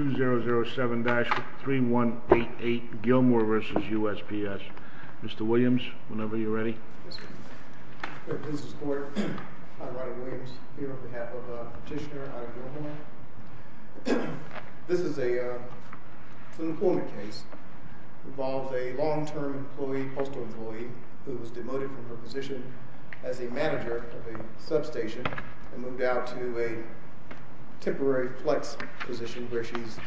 2007-3188 Gilmore v. USPS Mr. Williams, whenever you're ready. Yes, sir. Fair Business Court, I'm Ronnie Williams, here on behalf of Petitioner I. Gilmore. This is an employment case. It involves a long-term postal employee who was demoted from her position as a manager of a substation and moved out to a temporary flex position where she's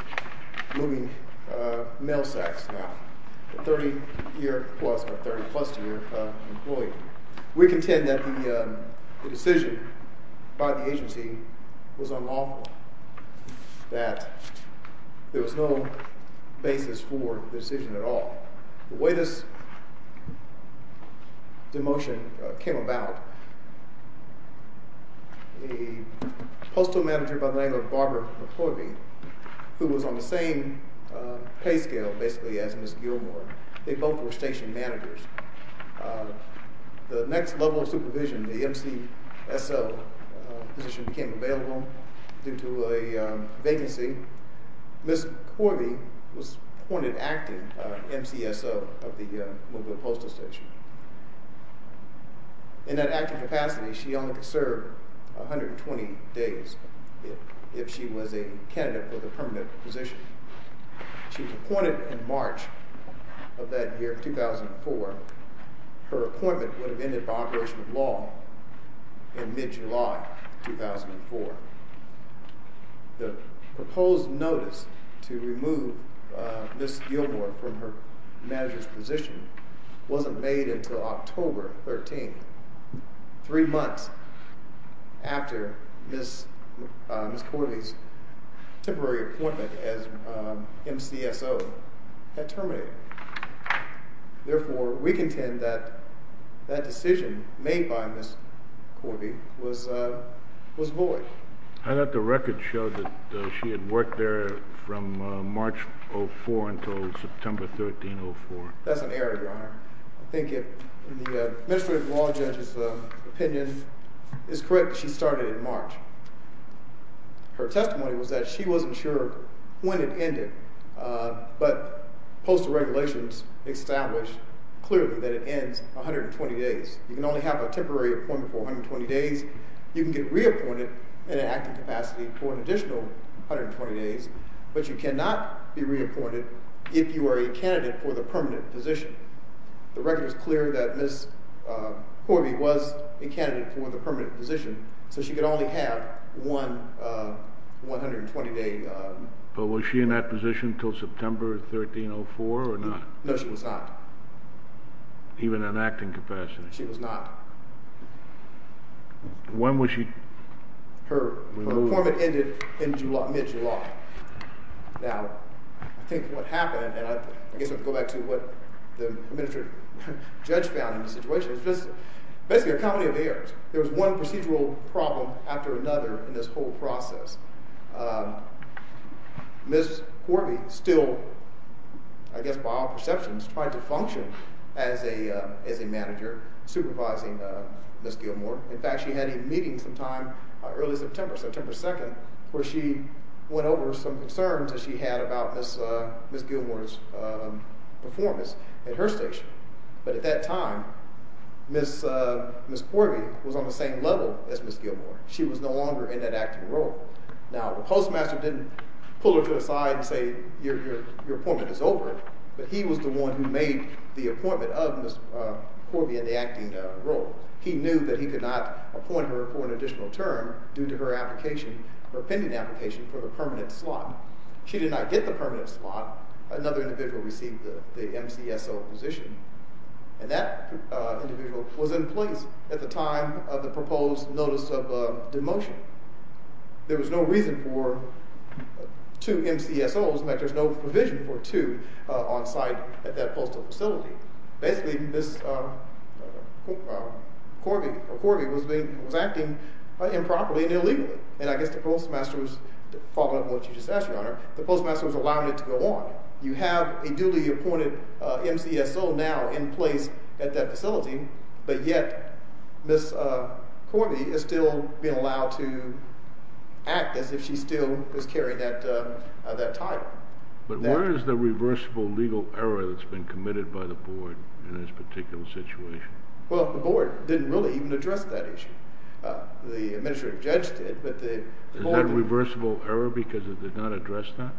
moving mail sacks now. A 30-plus year employee. We contend that the decision by the agency was unlawful. That there was no basis for the decision at all. The way this demotion came about, the postal manager by the name of Barbara McClovey, who was on the same pay scale basically as Ms. Gilmore, they both were station managers. The next level of supervision, the MCSO position became available due to a vacancy. Ms. McClovey was appointed active MCSO of the Movement Postal Station. In that active capacity, she only could serve 120 days if she was a candidate for the permanent position. She was appointed in March of that year, 2004. Her appointment would have ended by operation of law in mid-July 2004. The proposed notice to remove Ms. Gilmore from her manager's position wasn't made until October 13th, three months after Ms. McClovey's temporary appointment as MCSO had terminated. Therefore, we contend that that decision made by Ms. McClovey was void. I thought the record showed that she had worked there from March of 2004 until September 13th, 2004. That's an error, Your Honor. I think if the administrative law judge's opinion is correct, she started in March. Her testimony was that she wasn't sure when it ended, but postal regulations established clearly that it ends 120 days. You can only have a temporary appointment for 120 days. You can get reappointed in an active capacity for an additional 120 days, but you cannot be reappointed if you are a candidate for the permanent position. The record is clear that Ms. McClovey was a candidate for the permanent position, so she could only have one 120-day appointment. But was she in that position until September 13, 2004 or not? No, she was not. Even in an acting capacity? She was not. When was she removed? Her appointment ended in mid-July. Now, I think what happened, and I guess I'll go back to what the administrative judge found in the situation, was basically a comedy of errors. There was one procedural problem after another in this whole process. Ms. McClovey still, I guess by all perceptions, tried to function as a manager supervising Ms. Gilmore. In fact, she had a meeting sometime early September, September 2, where she went over some concerns that she had about Ms. Gilmore's performance at her station. But at that time, Ms. McClovey was on the same level as Ms. Gilmore. She was no longer in that acting role. Now, the postmaster didn't pull her to the side and say, your appointment is over. But he was the one who made the appointment of Ms. McClovey in the acting role. He knew that he could not appoint her for an additional term due to her pending application for the permanent slot. She did not get the permanent slot. Another individual received the MCSO position, and that individual was in place at the time of the proposed notice of demotion. There was no reason for two MCSOs, in fact, there's no provision for two on site at that postal facility. Basically, Ms. McClovey was acting improperly and illegally. And I guess the postmaster was following up on what you just asked, Your Honor. The postmaster was allowing it to go on. You have a duly appointed MCSO now in place at that facility, but yet Ms. McClovey is still being allowed to act as if she still is carrying that title. But where is the reversible legal error that's been committed by the board in this particular situation? Well, the board didn't really even address that issue. The administrative judge did. Is that reversible error because it did not address that?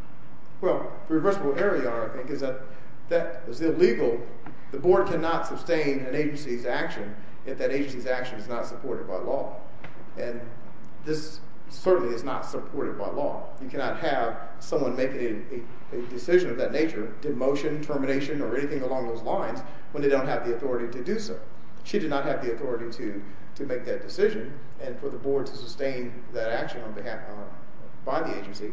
Well, the reversible error, Your Honor, I think, is that that is illegal. The board cannot sustain an agency's action if that agency's action is not supported by law. And this certainly is not supported by law. You cannot have someone making a decision of that nature, demotion, termination, or anything along those lines, when they don't have the authority to do so. She did not have the authority to make that decision, and for the board to sustain that action by the agency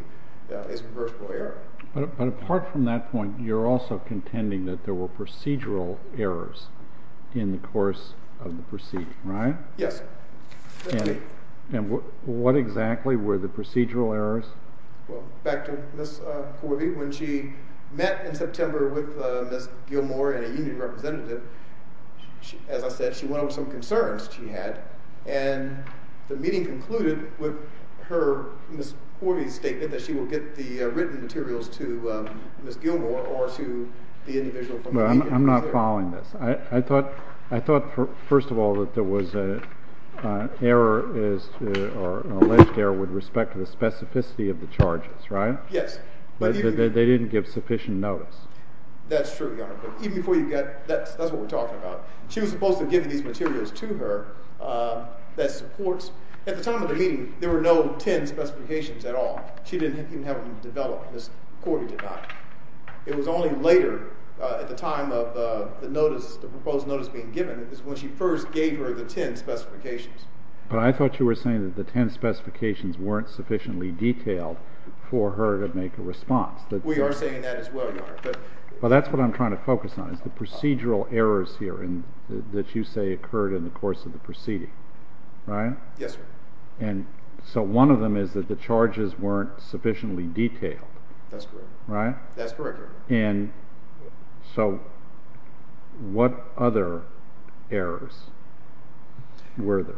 is reversible error. But apart from that point, you're also contending that there were procedural errors in the course of the proceeding, right? Yes. And what exactly were the procedural errors? Well, back to Ms. Corvey. When she met in September with Ms. Gilmour and a union representative, as I said, she went over some concerns she had, and the meeting concluded with Ms. Corvey's statement that she will get the written materials to Ms. Gilmour or to the individual. I'm not following this. I thought, first of all, that there was an alleged error with respect to the specificity of the charges, right? Yes. But they didn't give sufficient notice. That's true, Your Honor. That's what we're talking about. She was supposed to have given these materials to her that supports. At the time of the meeting, there were no 10 specifications at all. She didn't even have them developed. Ms. Corvey did not. It was only later, at the time of the notice, the proposed notice being given, is when she first gave her the 10 specifications. But I thought you were saying that the 10 specifications weren't sufficiently detailed for her to make a response. We are saying that as well, Your Honor. But that's what I'm trying to focus on, is the procedural errors here that you say occurred in the course of the proceeding, right? Yes, sir. And so one of them is that the charges weren't sufficiently detailed. That's correct. Right? That's correct, Your Honor. And so what other errors were there?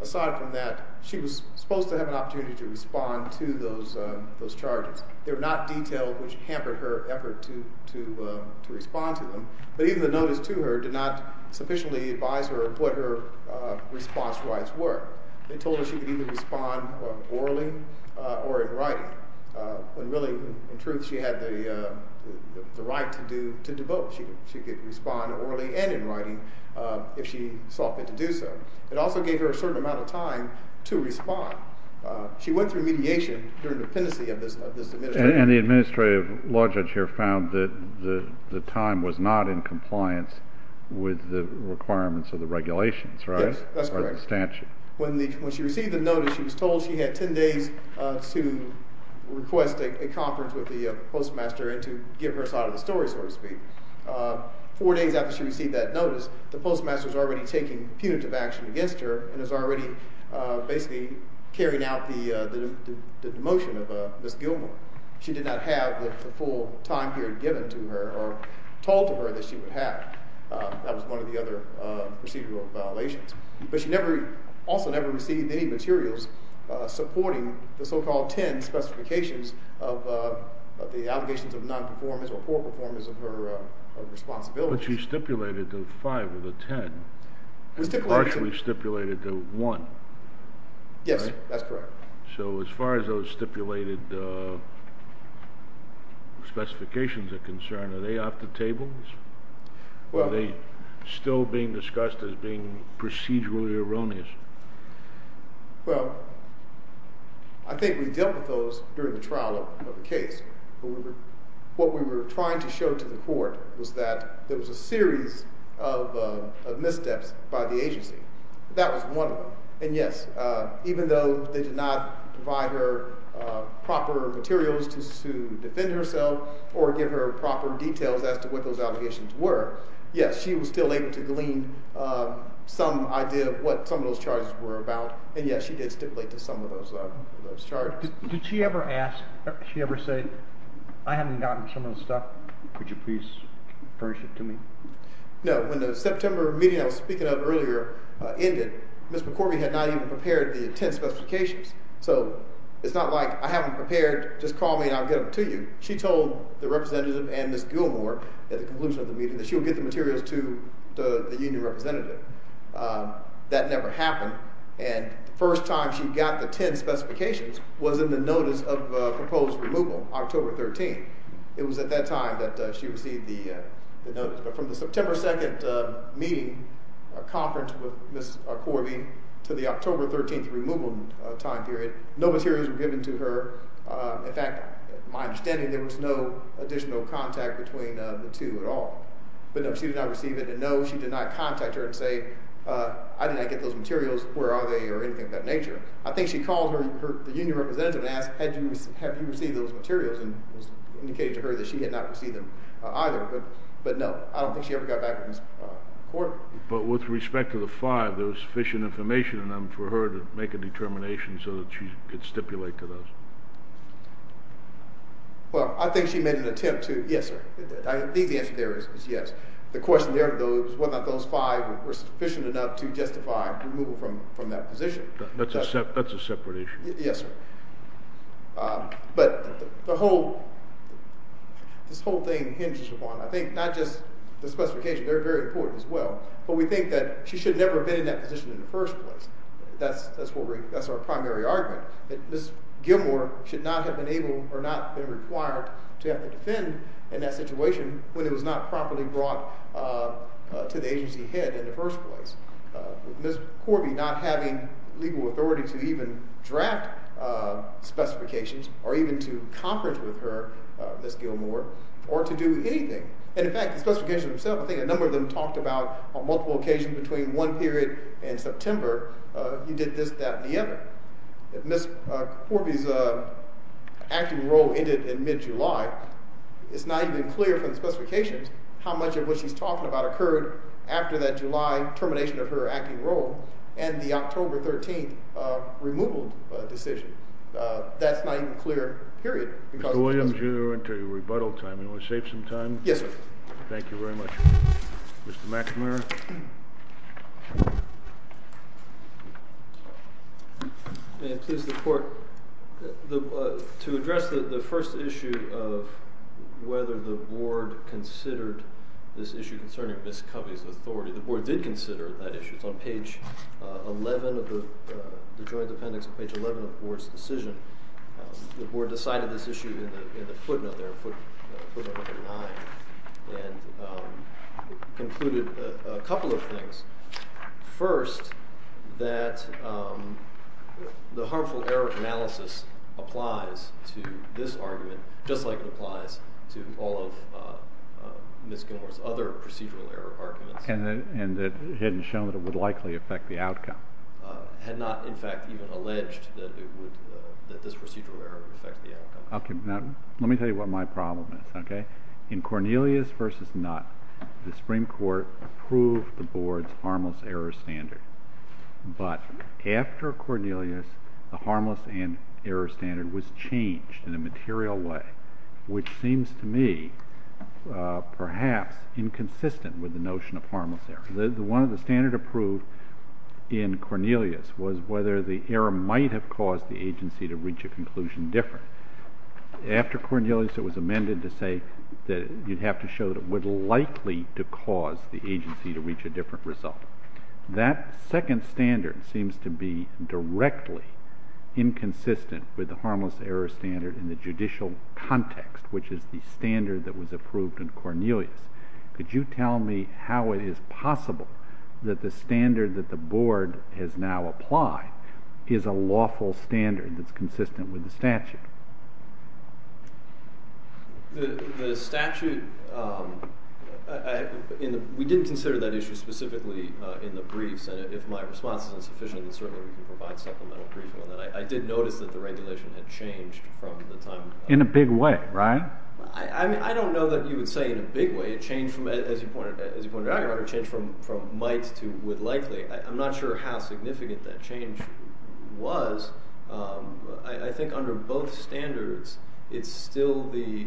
Aside from that, she was supposed to have an opportunity to respond to those charges. They were not detailed, which hampered her effort to respond to them. But even the notice to her did not sufficiently advise her of what her response rights were. They told her she could either respond orally or in writing. And really, in truth, she had the right to do both. She could respond orally and in writing if she sought to do so. It also gave her a certain amount of time to respond. She went through mediation during the pendency of this administration. And the administrative law judge here found that the time was not in compliance with the requirements of the regulations, right? Yes, that's correct. When she received the notice, she was told she had 10 days to request a conference with the postmaster and to give her side of the story, so to speak. Four days after she received that notice, the postmaster is already taking punitive action against her and is already basically carrying out the demotion of Ms. Gilmore. She did not have the full time period given to her or told to her that she would have. That was one of the other procedural violations. But she also never received any materials supporting the so-called 10 specifications of the allegations of nonperformance or poor performance of her responsibility. But she stipulated the 5 of the 10 and partially stipulated the 1, right? Yes, that's correct. So as far as those stipulated specifications are concerned, are they off the tables? Are they still being discussed as being procedurally erroneous? Well, I think we dealt with those during the trial of the case. What we were trying to show to the court was that there was a series of missteps by the agency. That was one of them. And yes, even though they did not provide her proper materials to defend herself or give her proper details as to what those allegations were, yes, she was still able to glean some idea of what some of those charges were about. And yes, she did stipulate to some of those charges. Did she ever ask, did she ever say, I haven't gotten some of the stuff, could you please furnish it to me? No, when the September meeting I was speaking of earlier ended, Ms. McCorvey had not even prepared the 10 specifications. So it's not like I haven't prepared, just call me and I'll get them to you. She told the representative and Ms. Gilmore at the conclusion of the meeting that she would get the materials to the union representative. That never happened. And the first time she got the 10 specifications was in the notice of proposed removal, October 13th. It was at that time that she received the notice. But from the September 2nd meeting conference with Ms. McCorvey to the October 13th removal time period, no materials were given to her. In fact, my understanding, there was no additional contact between the two at all. But no, she did not receive it. And no, she did not contact her and say, I did not get those materials. Where are they or anything of that nature? I think she called the union representative and asked, have you received those materials? And it was indicated to her that she had not received them either. But no, I don't think she ever got back with Ms. McCorvey. But with respect to the five, there was sufficient information in them for her to make a determination so that she could stipulate to those? Well, I think she made an attempt to. Yes, sir. I think the answer there is yes. The question there, though, is whether or not those five were sufficient enough to justify removal from that position. That's a separate issue. Yes, sir. But this whole thing hinges upon, I think, not just the specification. They're very important as well. But we think that she should never have been in that position in the first place. That's our primary argument. Ms. Gilmore should not have been able or not been required to have to defend in that situation when it was not properly brought to the agency head in the first place. Ms. McCorvey not having legal authority to even draft specifications or even to conference with her, Ms. Gilmore, or to do anything. And, in fact, the specification itself, I think a number of them talked about on multiple occasions between one period and September, you did this, that, and the other. Ms. McCorvey's acting role ended in mid-July. It's not even clear from the specifications how much of what she's talking about occurred after that July termination of her acting role and the October 13th removal decision. That's not even clear, period. Mr. Williams, you're into rebuttal time. You want to save some time? Yes, sir. Thank you very much, Mr. McNamara. May it please the Court, to address the first issue of whether the Board considered this issue concerning Ms. McCorvey's authority, the Board did consider that issue. It's on page 11 of the Joint Appendix, page 11 of the Board's decision. The Board decided this issue in the footnote there, footnote number 9, and concluded a couple of things. First, that the harmful error analysis applies to this argument, just like it applies to all of Ms. Gilmore's other procedural error arguments. And that it hadn't shown that it would likely affect the outcome. Had not, in fact, even alleged that this procedural error would affect the outcome. Okay, now let me tell you what my problem is, okay? In Cornelius v. Nutt, the Supreme Court approved the Board's harmless error standard. But after Cornelius, the harmless error standard was changed in a material way, which seems to me perhaps inconsistent with the notion of harmless error. One of the standards approved in Cornelius was whether the error might have caused the agency to reach a conclusion different. After Cornelius, it was amended to say that you'd have to show that it would likely to cause the agency to reach a different result. That second standard seems to be directly inconsistent with the harmless error standard in the judicial context, which is the standard that was approved in Cornelius. Could you tell me how it is possible that the standard that the Board has now applied is a lawful standard that's consistent with the statute? The statute, we didn't consider that issue specifically in the briefs. And if my response isn't sufficient, then certainly we can provide supplemental proof on that. I did notice that the regulation had changed from the time— In a big way, right? I don't know that you would say in a big way. As you pointed out, it changed from might to would likely. I'm not sure how significant that change was. I think under both standards, it's still the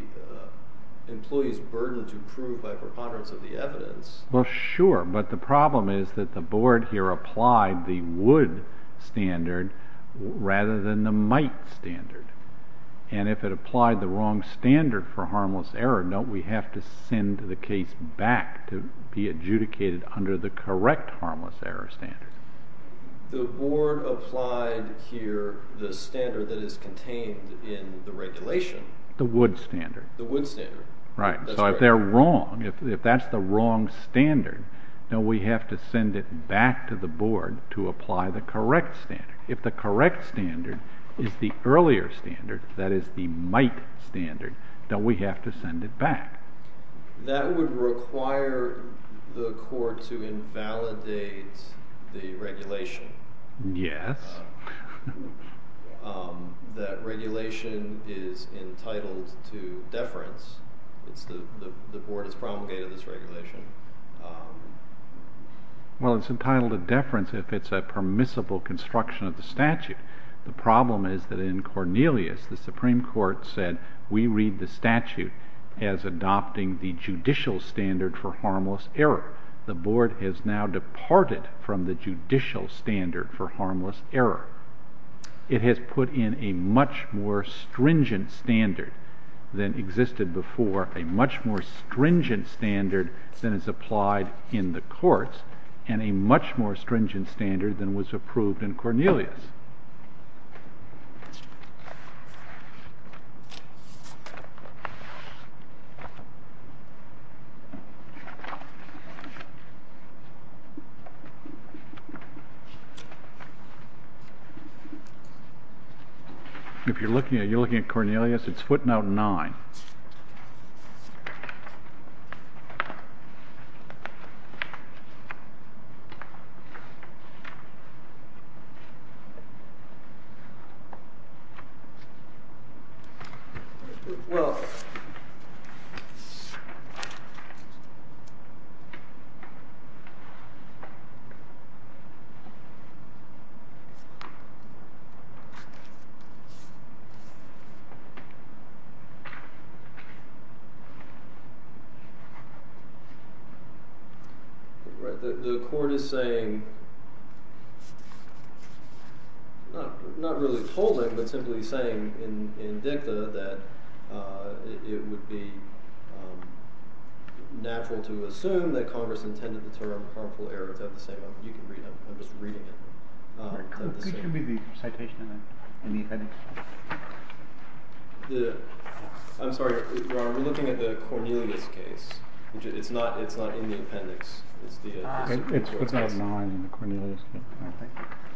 employee's burden to prove by preponderance of the evidence. Well, sure. But the problem is that the Board here applied the would standard rather than the might standard. And if it applied the wrong standard for harmless error, no, we have to send the case back to be adjudicated under the correct harmless error standard. The Board applied here the standard that is contained in the regulation. The would standard. The would standard. Right. So if they're wrong, if that's the wrong standard, no, we have to send it back to the Board to apply the correct standard. If the correct standard is the earlier standard, that is the might standard, then we have to send it back. That would require the Court to invalidate the regulation. Yes. That regulation is entitled to deference. Well, it's entitled to deference if it's a permissible construction of the statute. The problem is that in Cornelius, the Supreme Court said we read the statute as adopting the judicial standard for harmless error. The Board has now departed from the judicial standard for harmless error. It has put in a much more stringent standard than existed before, a much more stringent standard than is applied in the courts, and a much more stringent standard than was approved in Cornelius. If you're looking at Cornelius, it's footnote 9. The Court is saying, not really holding, but simply saying in dicta that it would be natural to assume that Congress intended the term harmful error. Could you read the citation in the appendix? I'm sorry, Your Honor, we're looking at the Cornelius case. It's not in the appendix. It's footnote 9 in the Cornelius case.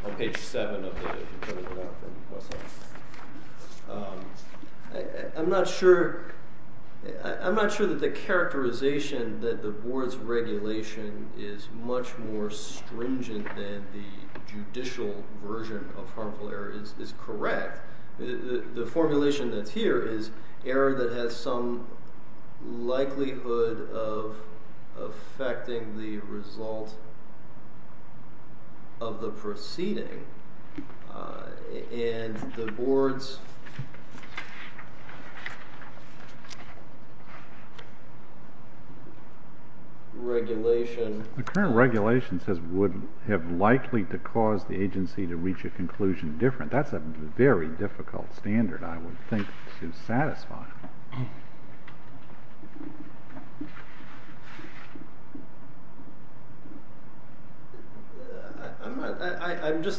On page 7 of the Cornelius case. I'm not sure that the characterization that the Board's regulation is much more stringent than the judicial version of harmful error is correct. The formulation that's here is error that has some likelihood of affecting the result of the proceeding, and the Board's regulation…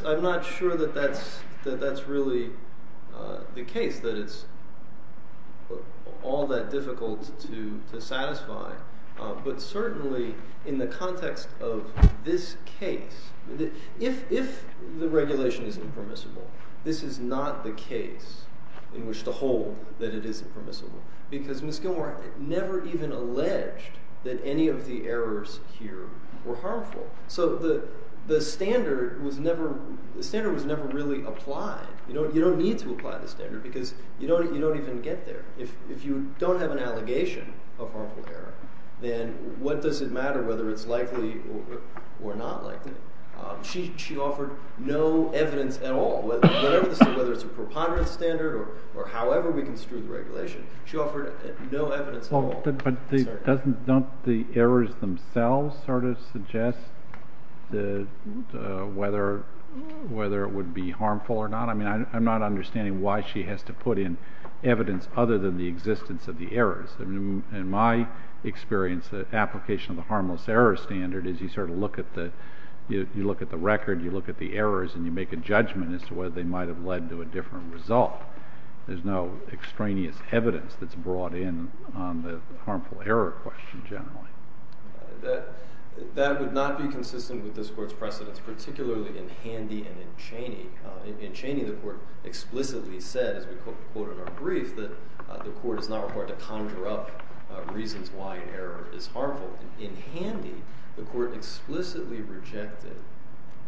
I'm not sure that that's really the case, that it's all that difficult to satisfy. But certainly, in the context of this case, if the regulation is impermissible, this is not the case in which to hold that it is impermissible. Because Ms. Gilmore never even alleged that any of the errors here were harmful. So the standard was never really applied. You don't need to apply the standard, because you don't even get there. If you don't have an allegation of harmful error, then what does it matter whether it's likely or not likely? She offered no evidence at all, whether it's a preponderance standard or however we construe the regulation. She offered no evidence at all. But don't the errors themselves sort of suggest whether it would be harmful or not? I mean, I'm not understanding why she has to put in evidence other than the existence of the errors. In my experience, the application of the harmless error standard is you sort of look at the record, you look at the errors, and you make a judgment as to whether they might have led to a different result. There's no extraneous evidence that's brought in on the harmful error question, generally. That would not be consistent with this Court's precedents, particularly in Handy and in Chaney. In Chaney, the Court explicitly said, as we quote in our brief, that the Court is not required to conjure up reasons why an error is harmful. In Handy, the Court explicitly rejected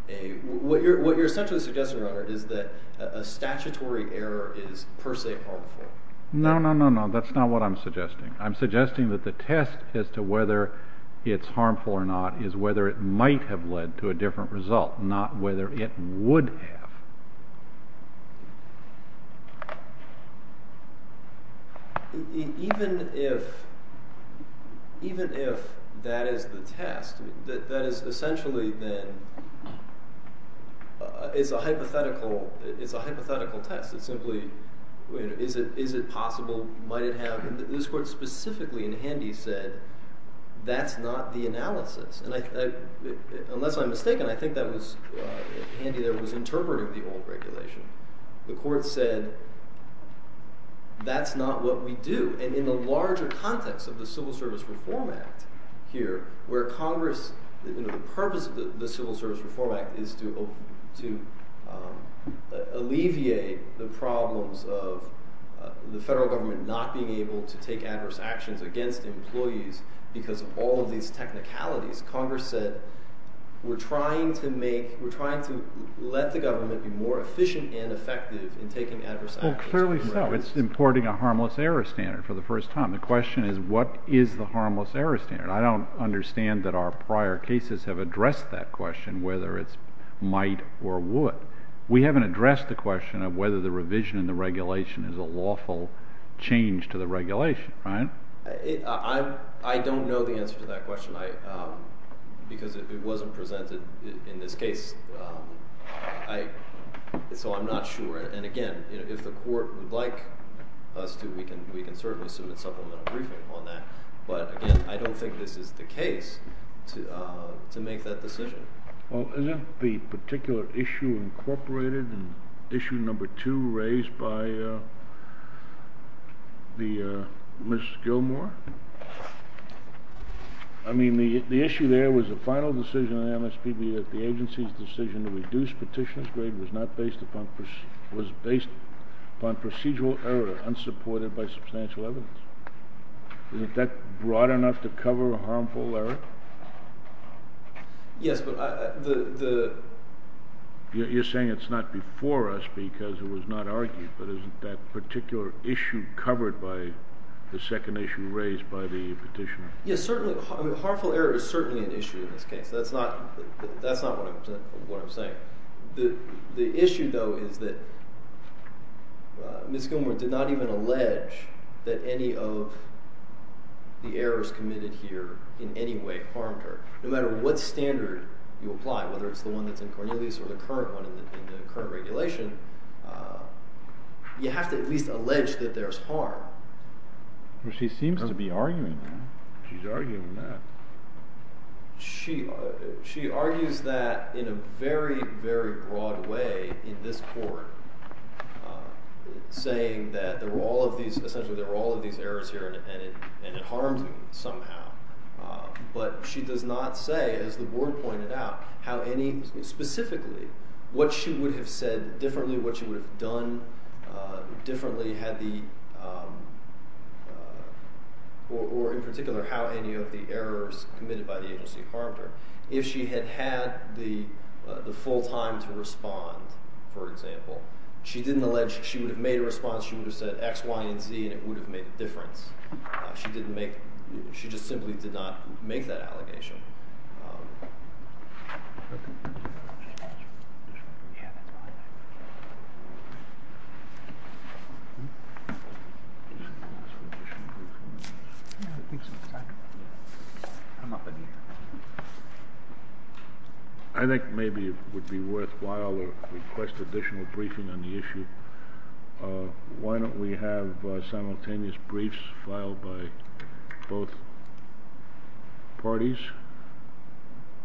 a – what you're essentially suggesting, Your Honor, is that a statutory error is per se harmful. No, no, no, no. That's not what I'm suggesting. I'm suggesting that the test as to whether it's harmful or not is whether it might have led to a different result, not whether it would have. Even if that is the test, that is essentially then – it's a hypothetical test. It's simply is it possible, might it have – this Court specifically in Handy said that's not the analysis. And I – unless I'm mistaken, I think that was Handy that was interpreting the old regulation. The Court said that's not what we do. And in the larger context of the Civil Service Reform Act here, where Congress – the purpose of the Civil Service Reform Act is to alleviate the problems of the federal government not being able to take adverse actions against employees because of all of these technicalities, Congress said we're trying to make – we're trying to let the government be more efficient and effective in taking adverse actions. Well, clearly so. It's importing a harmless error standard for the first time. The question is what is the harmless error standard? I don't understand that our prior cases have addressed that question, whether it's might or would. We haven't addressed the question of whether the revision in the regulation is a lawful change to the regulation, right? I don't know the answer to that question because it wasn't presented in this case. So I'm not sure. And again, if the Court would like us to, we can certainly submit supplemental briefing on that. But again, I don't think this is the case to make that decision. Well, isn't the particular issue incorporated in issue number two raised by Ms. Gilmour? I mean, the issue there was the final decision of the MSPB that the agency's decision to reduce petitioner's grade was based upon procedural error unsupported by substantial evidence. Isn't that broad enough to cover a harmful error? Yes, but the— You're saying it's not before us because it was not argued, but isn't that particular issue covered by the second issue raised by the petitioner? Yes, certainly. Harmful error is certainly an issue in this case. That's not what I'm saying. The issue, though, is that Ms. Gilmour did not even allege that any of the errors committed here in any way harmed her. No matter what standard you apply, whether it's the one that's in Cornelius or the current one in the current regulation, you have to at least allege that there's harm. Well, she seems to be arguing that. She's arguing that. She argues that in a very, very broad way in this court, saying that there were all of these—essentially there were all of these errors here and it harmed me somehow. But she does not say, as the board pointed out, how any—specifically, what she would have said differently, what she would have done differently had the— or in particular, how any of the errors committed by the agency harmed her. If she had had the full time to respond, for example, she didn't allege—she would have made a response. She would have said X, Y, and Z, and it would have made a difference. She didn't make—she just simply did not make that allegation. I think maybe it would be worthwhile to request additional briefing on the issue. Why don't we have simultaneous briefs filed by both parties,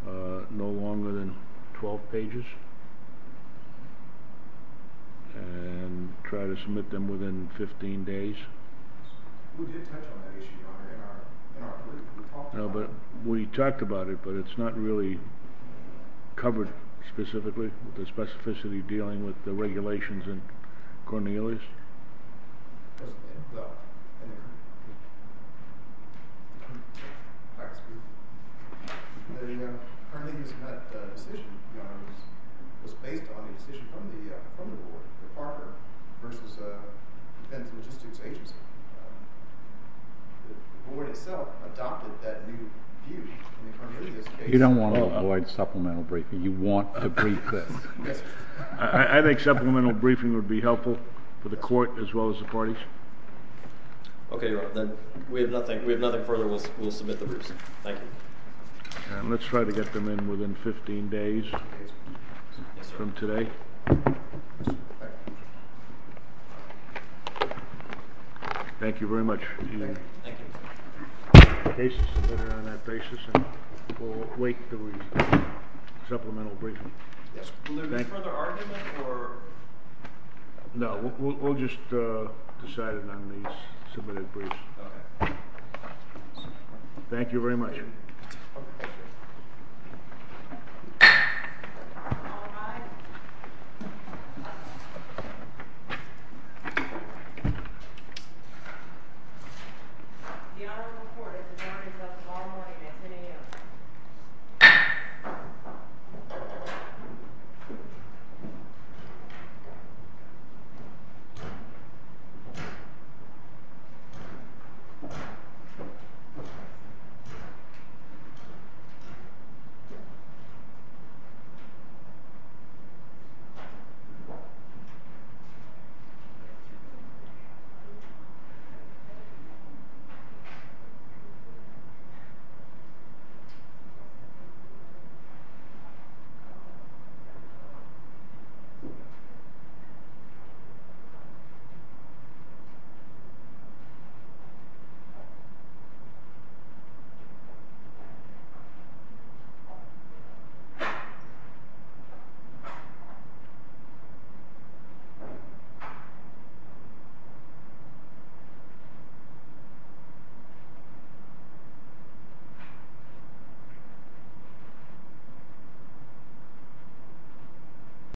no longer than 12 pages, and try to submit them within 15 days? We did touch on that issue in our brief. No, but we talked about it, but it's not really covered specifically, the specificity dealing with the regulations in Cornelius. You don't want to avoid supplemental briefing. You want to brief this. I think supplemental briefing would be helpful for the court as well as the parties. Okay, Your Honor. Then we have nothing further. We'll submit the briefs. Thank you. Let's try to get them in within 15 days from today. Thank you very much. Thank you. The case is submitted on that basis, and we'll await the supplemental briefing. Will there be further argument, or— No, we'll just decide it on the submitted briefs. Okay. Thank you very much. Thank you. All rise. The Honorable Court is adjourned until tomorrow morning at 10 a.m. The Court is adjourned. The Court is adjourned. The Court is adjourned.